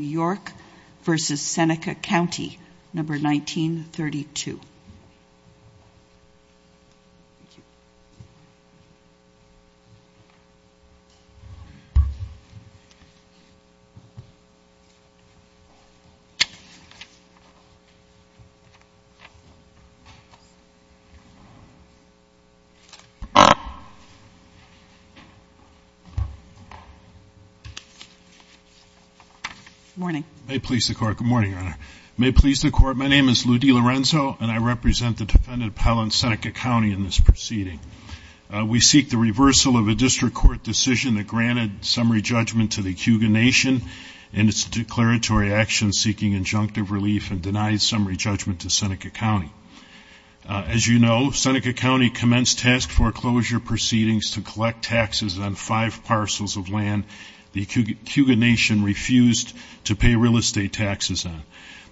york versus Seneca County, number 1932. Good morning. May it please the court. Good morning, Your Honor. May it please the court. My name is Lou D. Lorenzo, and I represent the defendant appellant Seneca County in this proceeding. We seek the reversal of a district court decision that granted summary judgment to the Cuga Nation in its declaratory action seeking injunctive relief and denied summary judgment to Seneca County. As you know, Seneca County commenced task foreclosure proceedings to collect taxes on five parcels of land the Cuga Nation refused to pay real estate taxes on.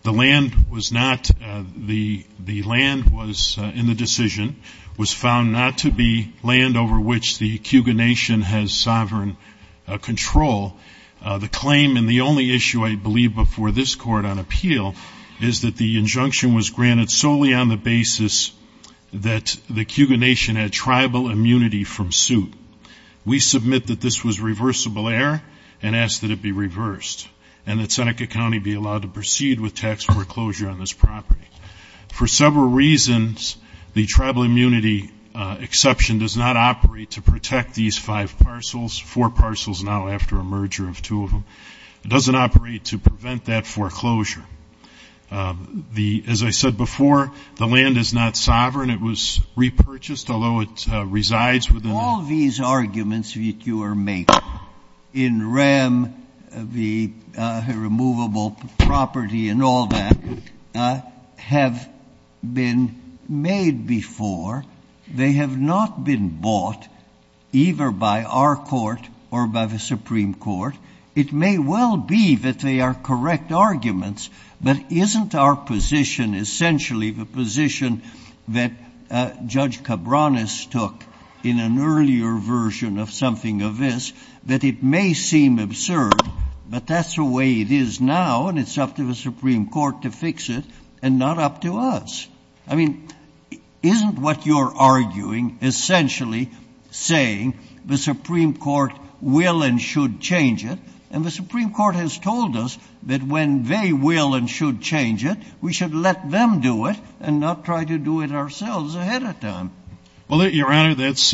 The land was not the land was in the decision was found not to be land over which the Cuga Nation has sovereign control. The claim and the only issue I believe before this court on appeal is that the injunction was granted solely on the basis that the Cuga Nation had tribal immunity from suit. We submit that this was reversible error and ask that it be reversed and that Seneca County be allowed to proceed with tax foreclosure on this property. For several reasons, the tribal immunity exception does not operate to protect these five parcels, four parcels now after a merger of two of them. It doesn't operate to prevent that foreclosure. The as I said before, the land is not sovereign. It was repurchased, although it resides within. All these arguments that you are making in RAM, the removable property and all that have been made before. They have not been bought either by our court or by the Supreme Court. It may well be that they are correct arguments, but isn't our position essentially the position that Judge Cabranes took in an earlier version of something of this that it may seem absurd, but that's the way it is now and it's up to the Supreme Court to fix it and not up to us. I mean, isn't what you're arguing essentially saying the Supreme Court will and should change it? And the Supreme Court has told us that when they will and should change it, we should let them do it and not try to do it ourselves ahead of time. Well, Your Honor, that's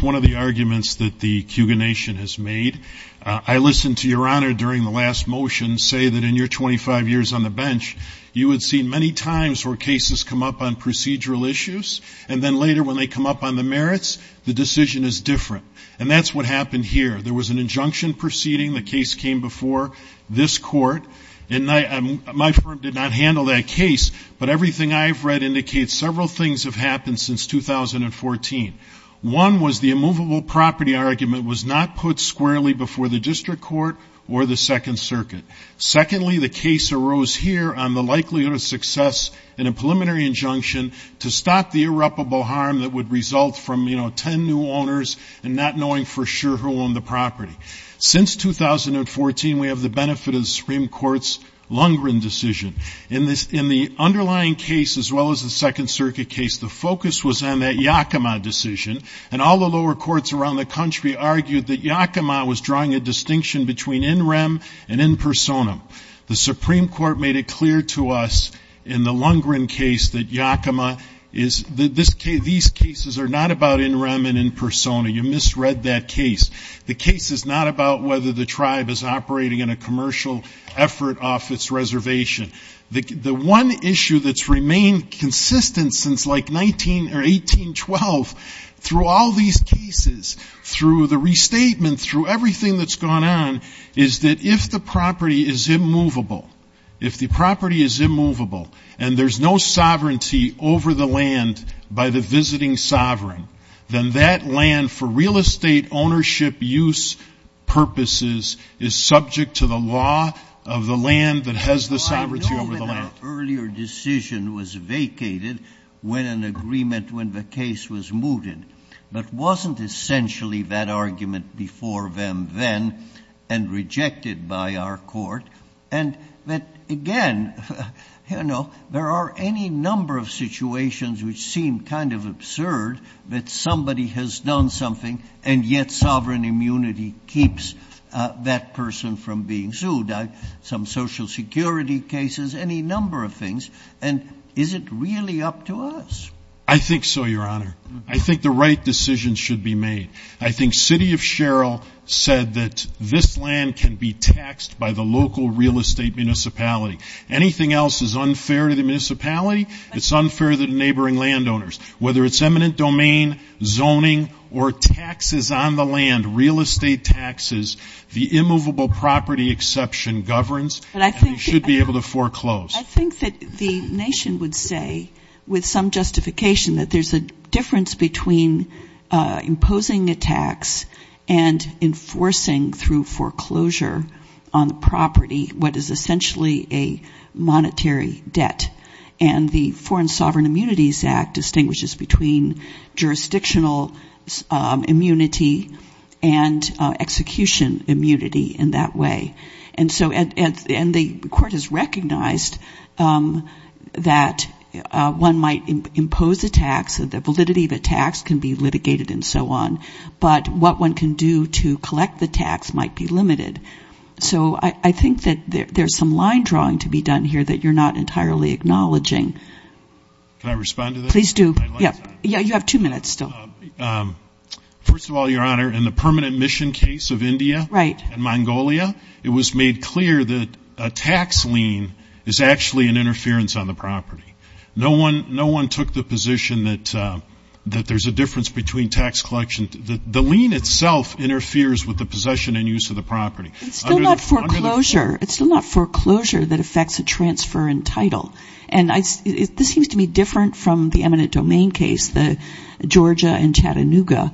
one of the arguments that the Cougar Nation has made. I listened to Your Honor during the last motion say that in your 25 years on the bench, you had seen many times where cases come up on procedural issues, and then later when they come up on the merits, the decision is different. And that's what happened here. There was an injunction proceeding, the case came before this Court, and my firm did not handle that case, but everything I've read indicates several things have happened since 2014. One was the immovable property argument was not put squarely before the District Court or the Second Circuit. Secondly, the case arose here on the likelihood of success in a preliminary injunction to stop the irreparable harm that would result from, you know, 10 new owners and not knowing for sure who owned the property. Since 2014, we have the benefit of the Supreme Court's Lundgren decision. In the underlying case, as well as the Second Circuit case, the focus was on that Yakima decision, and all the lower courts around the country argued that Yakima was drawing a distinction between in rem and in persona. The Supreme Court made it clear to us in the Lundgren case that Yakima is, that these cases are not about in rem and in persona. You misread that case. The case is not about whether the tribe is operating in a commercial effort off its reservation. The one issue that's remained consistent since like 19 or 1812 through all these cases, through the restatement, through everything that's gone on, is that if the property is immovable, if the property is immovable and there's no That land for real estate ownership use purposes is subject to the law of the land that has the sovereignty over the land. Well, I know that an earlier decision was vacated when an agreement, when the case was mooted, but wasn't essentially that argument before them then and rejected by our court. And that, again, you know, there are any number of situations which seem kind of absurd that somebody has done something and yet sovereign immunity keeps that person from being sued. Some social security cases, any number of things. And is it really up to us? I think so, Your Honor. I think the right decision should be made. I think City of Sherrill said that this land can be taxed by the local real estate municipality. Anything else is unfair to the municipality, it's unfair to the neighboring landowners. Whether it's eminent domain, zoning, or taxes on the land, real estate taxes, the immovable property exception governs and we should be able to foreclose. I think that the nation would say, with some justification, that there's a difference between imposing a tax and enforcing through foreclosure on the property what is essentially a monetary debt. And the Foreign Sovereign Immunities Act distinguishes between jurisdictional immunity and execution immunity in that way. And so, and the court has recognized that one might impose a tax, the validity of a tax can be litigated and so on, but what one can do to collect the tax might be limited. So I think that there's some line drawing to be done here that you're not entirely acknowledging. Can I respond to that? Please do. Yeah, you have two minutes still. First of all, Your Honor, in the permanent mission case of India and Mongolia, it was made clear that a tax lien is actually an interference on the property. No one took the position that there's a difference between tax collection. The lien itself interferes with the possession and use of the property. It's still not foreclosure. It's still not foreclosure that affects a transfer in title. And this seems to be different from the eminent domain case, the Georgia and Chattanooga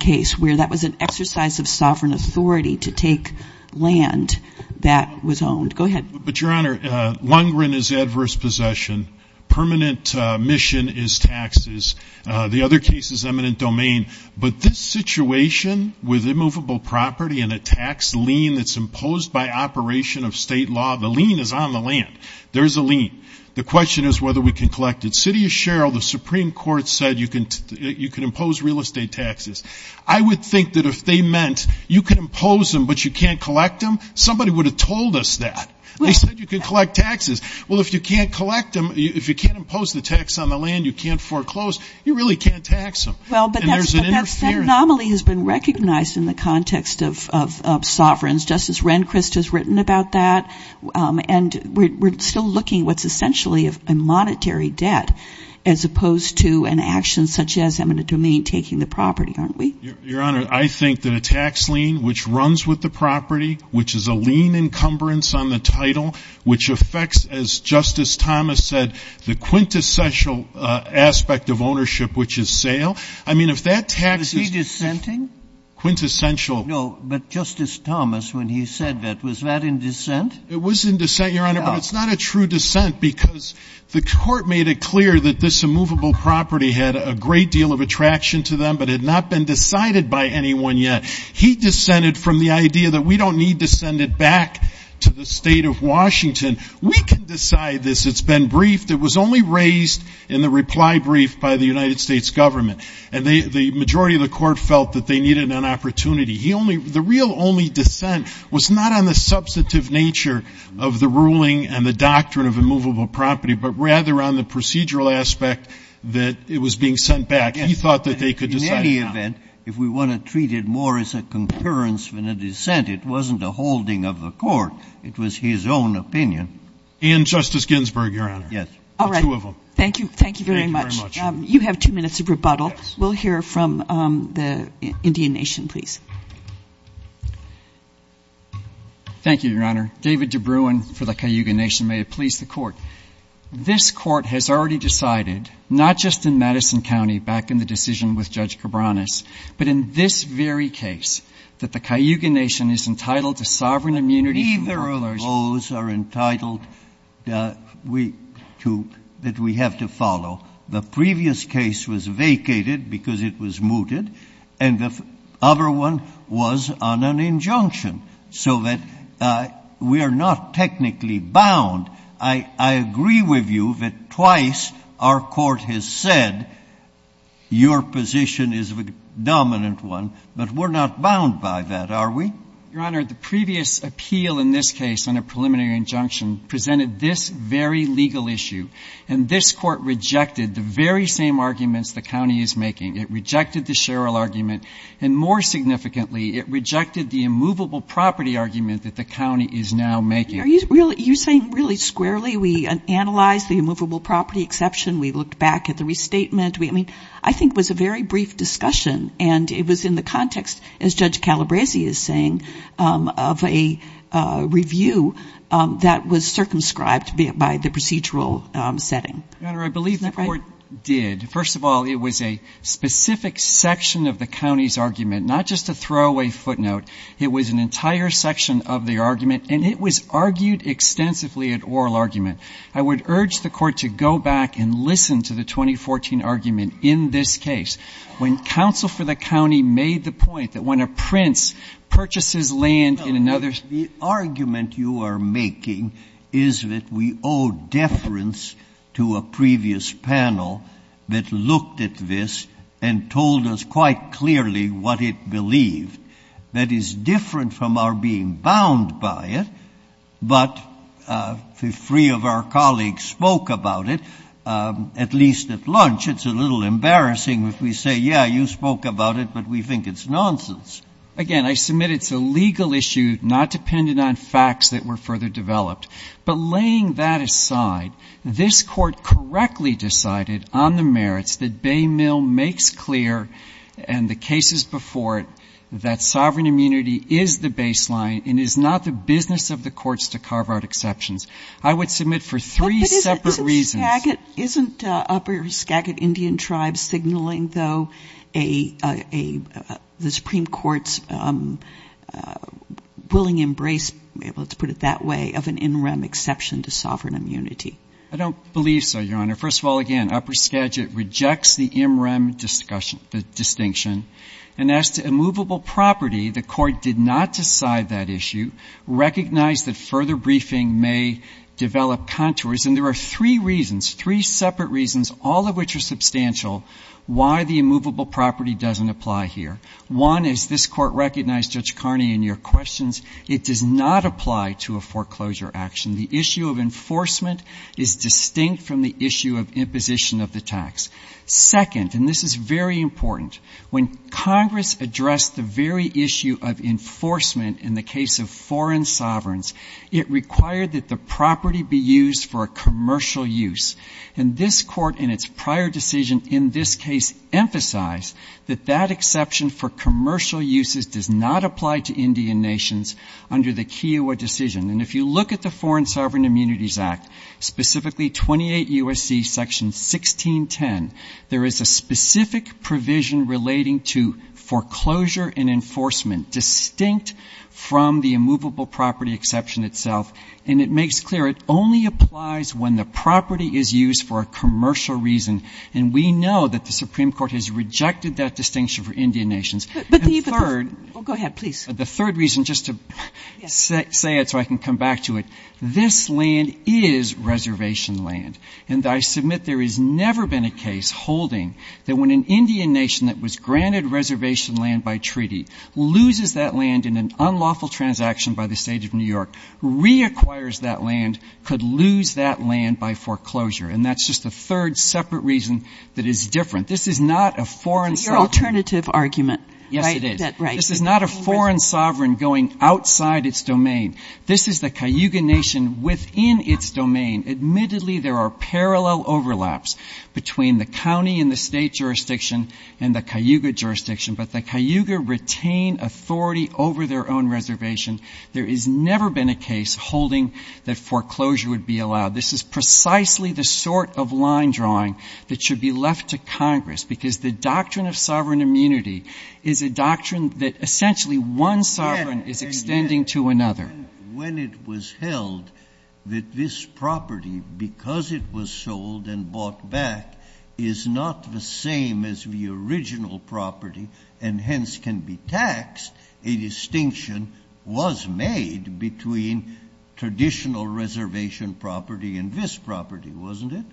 case, where that was an exercise of sovereign authority to take land that was owned. Go ahead. But Your Honor, lungren is adverse possession. Permanent mission is taxes. The other case is eminent domain. But this situation with immovable property and a tax lien that's imposed by operation of state law, the lien is on the land. There's a lien. The question is whether we can collect it. City of Sherrill, the Supreme Court said you can impose real estate taxes. I would think that if they meant you can impose them but you can't collect them, somebody would have told us that. They said you can collect taxes. Well, if you can't collect them, if you can't tax on the land, you can't foreclose, you really can't tax them. Well, but that anomaly has been recognized in the context of sovereigns. Justice Rehnquist has written about that. And we're still looking what's essentially a monetary debt as opposed to an action such as eminent domain taking the property, aren't we? Your Honor, I think that a tax lien which runs with the property, which is a lien encumbrance on the title, which affects, as Justice Thomas said, the quintessential aspect of ownership, which is sale. I mean, if that tax is — Was he dissenting? Quintessential. No, but Justice Thomas, when he said that, was that in dissent? It was in dissent, Your Honor, but it's not a true dissent because the Court made it clear that this immovable property had a great deal of attraction to them but had not been decided by anyone yet. He dissented from the idea that we don't need to send it back to the State of Washington. We can decide this. It's been briefed. It was only raised in the reply brief by the United States Government. And the majority of the Court felt that they needed an opportunity. The real only dissent was not on the substantive nature of the ruling and the doctrine of immovable property, but rather on the procedural aspect that it was being sent back. Yes. And we could decide now. In any event, if we want to treat it more as a concurrence than a dissent, it wasn't a holding of the Court. It was his own opinion. And Justice Ginsburg, Your Honor. Yes. All right. The two of them. Thank you. Thank you very much. Thank you very much. You have two minutes of rebuttal. Yes. We'll hear from the Indian Nation, please. Thank you, Your Honor. David DeBruin for the Cayuga Nation. May it please the Court. This Court has already decided, not just in Madison County, back in the decision with Judge Cabranes, but in this very case, that the Cayuga Nation is entitled to sovereign immunity from foreclosure. Neither of those are entitled that we have to follow. The previous case was vacated because it was mooted, and the other one was on an injunction. So that we are not technically bound. I agree with you that twice our Court has said your position is the dominant one, but we're not bound by that, are we? Your Honor, the previous appeal in this case on a preliminary injunction presented this very legal issue, and this Court rejected the very same arguments the County is making. It rejected the Sherrill argument, and more significantly, it rejected the immovable property argument that the County is now making. Are you saying really squarely we analyzed the immovable property exception, we looked back at the restatement? I mean, I think it was a very brief discussion, and it was in the context, as Judge Calabresi is saying, of a review that was circumscribed by the procedural setting. Your Honor, I believe the Court did. First of all, it was a specific section of the County's argument, not just a throwaway footnote. It was an entire section of the argument, and it was argued extensively at oral argument. I would urge the Court to go back and listen to the 2014 argument in this case, when counsel for the County made the point that when a prince purchases land in another's — Well, the argument you are making is that we owe deference to a previous panel that looked at this and told us quite clearly what it believed. That is different from being bound by it, but three of our colleagues spoke about it, at least at lunch. It's a little embarrassing if we say, yeah, you spoke about it, but we think it's nonsense. Again, I submit it's a legal issue, not dependent on facts that were further developed. But laying that aside, this Court correctly decided on the merits that Baymill makes clear and the cases before it that sovereign immunity is the baseline and is not the business of the courts to carve out exceptions. I would submit for three separate reasons But isn't Skagit — isn't Upper Skagit Indian Tribes signaling, though, a — the Supreme Court's willing embrace — let's put it that way — of an in rem exception to sovereign immunity? I don't believe so, Your Honor. First of all, again, Upper Skagit rejects the in rem discussion — the distinction. And as to immovable property, the Court did not decide that issue, recognized that further briefing may develop contours. And there are three reasons, three separate reasons, all of which are substantial, why the immovable property doesn't apply here. One is this Court recognized, Judge Carney, in your questions, it does not apply to a foreclosure action. The issue of enforcement is distinct from the issue of This is very important. When Congress addressed the very issue of enforcement in the case of foreign sovereigns, it required that the property be used for a commercial use. And this Court, in its prior decision in this case, emphasized that that exception for commercial uses does not apply to Indian nations under the Kiowa decision. And if you look at the relating to foreclosure and enforcement distinct from the immovable property exception itself, and it makes clear it only applies when the property is used for a commercial reason. And we know that the Supreme Court has rejected that distinction for Indian nations. And third — But the — oh, go ahead, please. The third reason, just to say it so I can come back to it, this land is reservation land. And I submit there has never been a case holding that when an Indian nation that was granted reservation land by treaty loses that land in an unlawful transaction by the State of New York, reacquires that land, could lose that land by foreclosure. And that's just the third separate reason that is different. This is not a foreign sovereign — It's your alternative argument, right? Yes, it is. That, right. This is not a foreign sovereign going outside its domain. This is the Cayuga Nation within its domain. Admittedly, there are parallel overlaps between the county and the State jurisdiction and the Cayuga jurisdiction, but the Cayuga retain authority over their own reservation. There has never been a case holding that foreclosure would be allowed. This is precisely the sort of line drawing that should be left to Congress, because the doctrine of sovereign immunity is a doctrine that essentially one sovereign is extending to another. When it was held that this property, because it was sold and bought back, is not the same as the original property and hence can be taxed, a distinction was made between traditional reservation property and this property, wasn't it?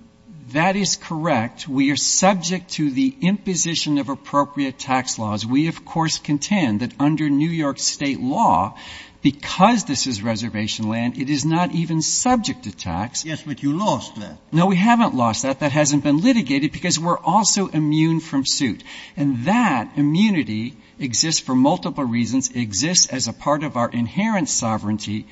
That is correct. We are subject to the imposition of appropriate tax laws. We, of course, contend that under New York State law, because this is reservation land, it is not even subject to tax. Yes, but you lost that. No, we haven't lost that. That hasn't been litigated, because we're also immune from suit. And that immunity exists for multiple reasons. It exists as a part of our inherent sovereignty,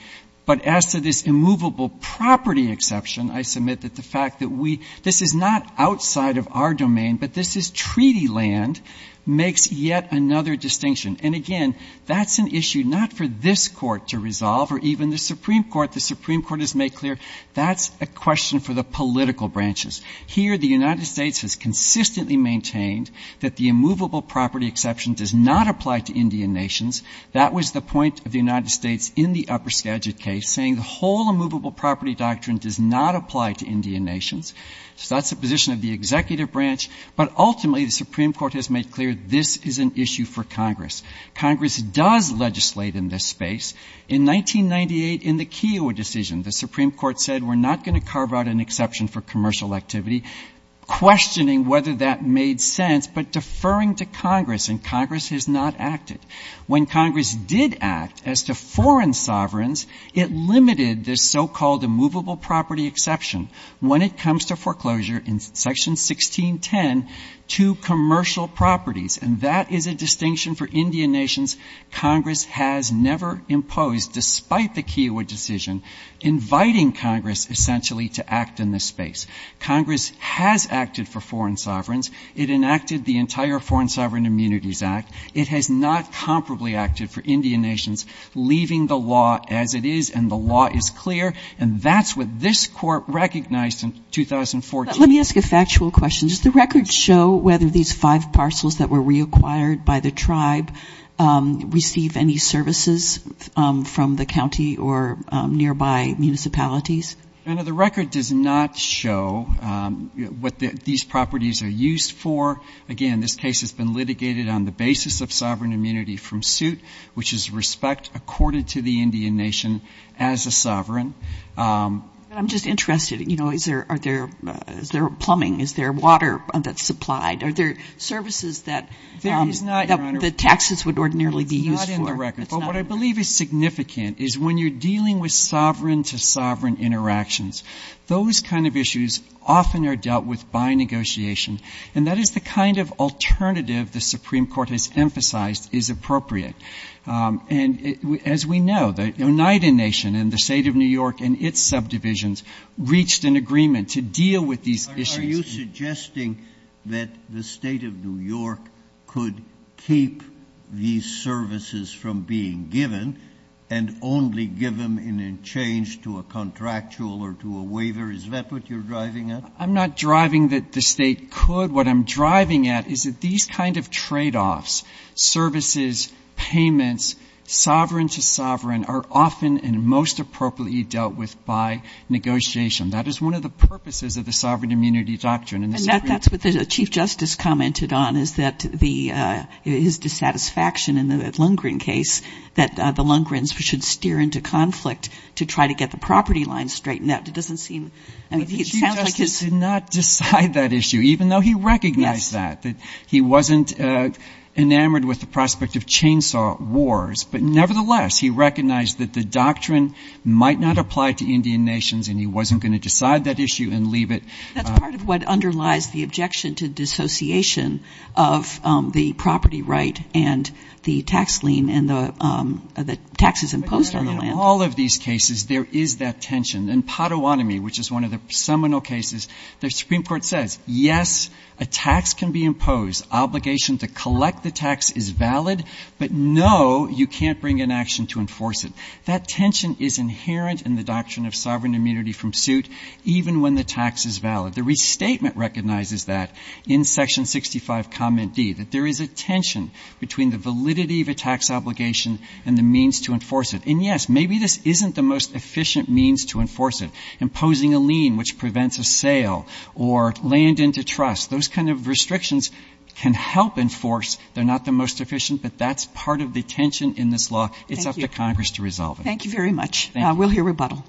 but as to this immovable property exception, I submit that the fact that we — this is not outside of our domain, but this is treaty land, makes yet another distinction. And again, that's an issue not for this Court to resolve or even the Supreme Court. The Supreme Court has made clear that's a question for the political branches. Here, the United States has consistently maintained that the immovable property exception does not apply to Indian nations. That was the point of the United States in the upper Skagit case, saying the whole immovable property doctrine does not apply to Indian nations. So that's the position of the executive branch. But ultimately, the Supreme Court has made clear this is an issue for Congress. Congress does legislate in this space. In 1998, in the Keogh decision, the Supreme Court said we're not going to carve out an exception for commercial activity, questioning whether that made sense, but deferring to Congress, and Congress has not acted. When Congress did act as to foreign sovereigns, it limited this so-called immovable property exception, when it comes to foreclosure, in section 1610, to commercial properties. And that is a distinction for Indian nations Congress has never imposed, despite the Keogh decision, inviting Congress essentially to act in this space. Congress has acted for foreign sovereigns. It enacted the entire Foreign Sovereign Immunities Act. It has not comparably acted for Indian nations, leaving the law as it is, and the law is clear. And that's what this Court recognized in 2014. Let me ask a factual question. Does the record show whether these five parcels that were reacquired by the tribe receive any services from the county or nearby municipalities? The record does not show what these properties are used for. Again, this case has been litigated on the basis of sovereign immunity from suit, which is respect accorded to the Indian nation as a sovereign. But I'm just interested, you know, is there plumbing? Is there water that's supplied? Are there services that the taxes would ordinarily be used for? That is not in the record. But what I believe is significant is when you're dealing with sovereign-to-sovereign interactions, those kind of issues often are dealt with by negotiation. And that is the kind of alternative the Supreme Court has emphasized is appropriate. And as we know, the Oneida Nation and the State of New York and its subdivisions reached an agreement to deal with these issues. Are you suggesting that the State of New York could keep these services from being given and only give them in exchange to a contractual or to a waiver? Is that what you're driving at? I'm not driving that the State could. What I'm driving at is that these kind of tradeoffs, services, payments, sovereign-to-sovereign, are often and most appropriately dealt with by negotiation. That is one of the purposes of the sovereign immunity doctrine. And that's what the Chief Justice commented on, is that the his dissatisfaction in the Lundgren case, that the Lundgrens should steer into conflict to try to get the property lines straightened out. It doesn't seem, I mean, it sounds like it's But the Chief Justice did not decide that issue, even though he recognized that, that he wasn't enamored with the prospect of chainsaw wars. But nevertheless, he recognized that the doctrine might not apply to Indian nations, and he wasn't going to decide that issue and leave it That's part of what underlies the objection to dissociation of the property right and the tax lien and the taxes imposed on the land. In all of these cases, there is that tension. In Pottawatomie, which is one of the seminal cases, the Supreme Court says, yes, a tax can be imposed. Obligation to collect the tax is valid, but no, you can't bring an action to enforce it. That tension is inherent in the doctrine of sovereign immunity from suit, even when the tax is valid. The restatement recognizes that in section 65, comment D, that there is a tension between the validity of a tax obligation and the means to enforce it. And yes, maybe this isn't the most efficient means to enforce it, imposing a lien which prevents a sale or land into trust. Those kind of restrictions can help enforce. They're not the most efficient, but that's part of the tension in this law. It's up to Congress to resolve it. Thank you very much. Thank you. We'll hear rebuttal.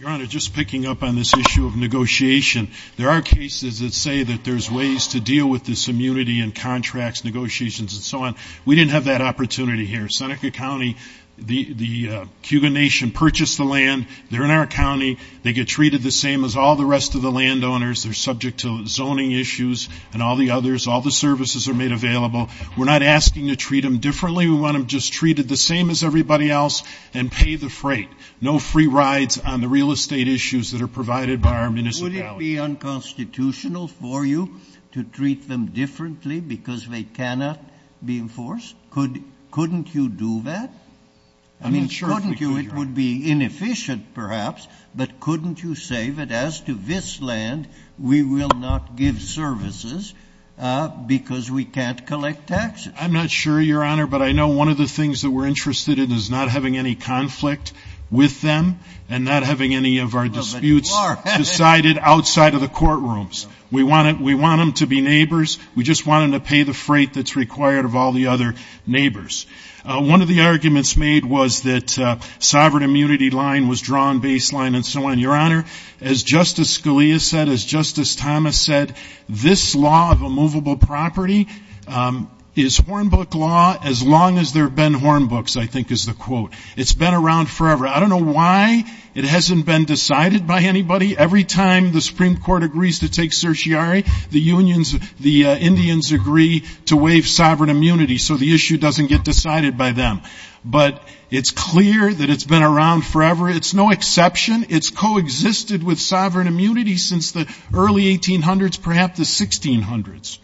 Your Honor, just picking up on this issue of negotiation, there are cases that say that there's ways to deal with this immunity in contracts, negotiations, and so on. We didn't have that opportunity here. Seneca County, the Cuban nation purchased the land. They're in our county. They get treated the same as all the rest of the landowners. They're subject to zoning issues and all the others. All the services are made available. We're not asking to treat them differently. We want them just treated the same as everybody else and pay the freight. No free rides on the real estate issues that are provided by our municipality. Would it be unconstitutional for you to treat them differently because they cannot be enforced? Couldn't you do that? I mean, couldn't you? It would be inefficient, perhaps, but couldn't you say that as to this land, we will not give services because we can't collect taxes? I'm not sure, Your Honor, but I know one of the things that we're interested in is not having any conflict with them and not having any of our disputes decided outside of the courtrooms. We want them to be neighbors. We just want them to pay the freight that's required of all the other neighbors. One of the arguments made was that sovereign immunity line was drawn, baseline, and so on. Your Honor, as Justice Scalia said, as Justice Thomas said, this law of immovable property is Hornbook law as long as there have been It's been around forever. I don't know why it hasn't been decided by anybody. Every time the Supreme Court agrees to take certiorari, the unions, the Indians agree to waive sovereign immunity so the issue doesn't get decided by them. But it's clear that it's been around forever. It's no exception. It's coexisted with sovereign immunity since the early 1800s, perhaps the 1600s.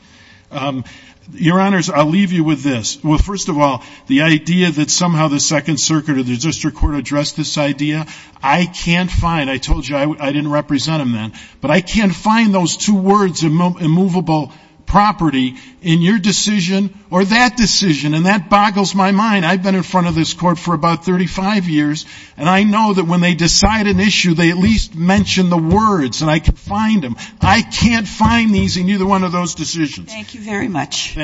Your Honors, I'll leave you with this. Well, first of all, the idea that somehow the Second Circuit or the District Court addressed this idea, I can't find. I told you I didn't represent them then. But I can't find those two words, immovable property, in your decision or that decision. And that boggles my mind. I've been in front of this court for about 35 years and I know that when they decide an issue, they at least mention the words and I can find them. I can't find these in either one of those decisions. Thank you very much.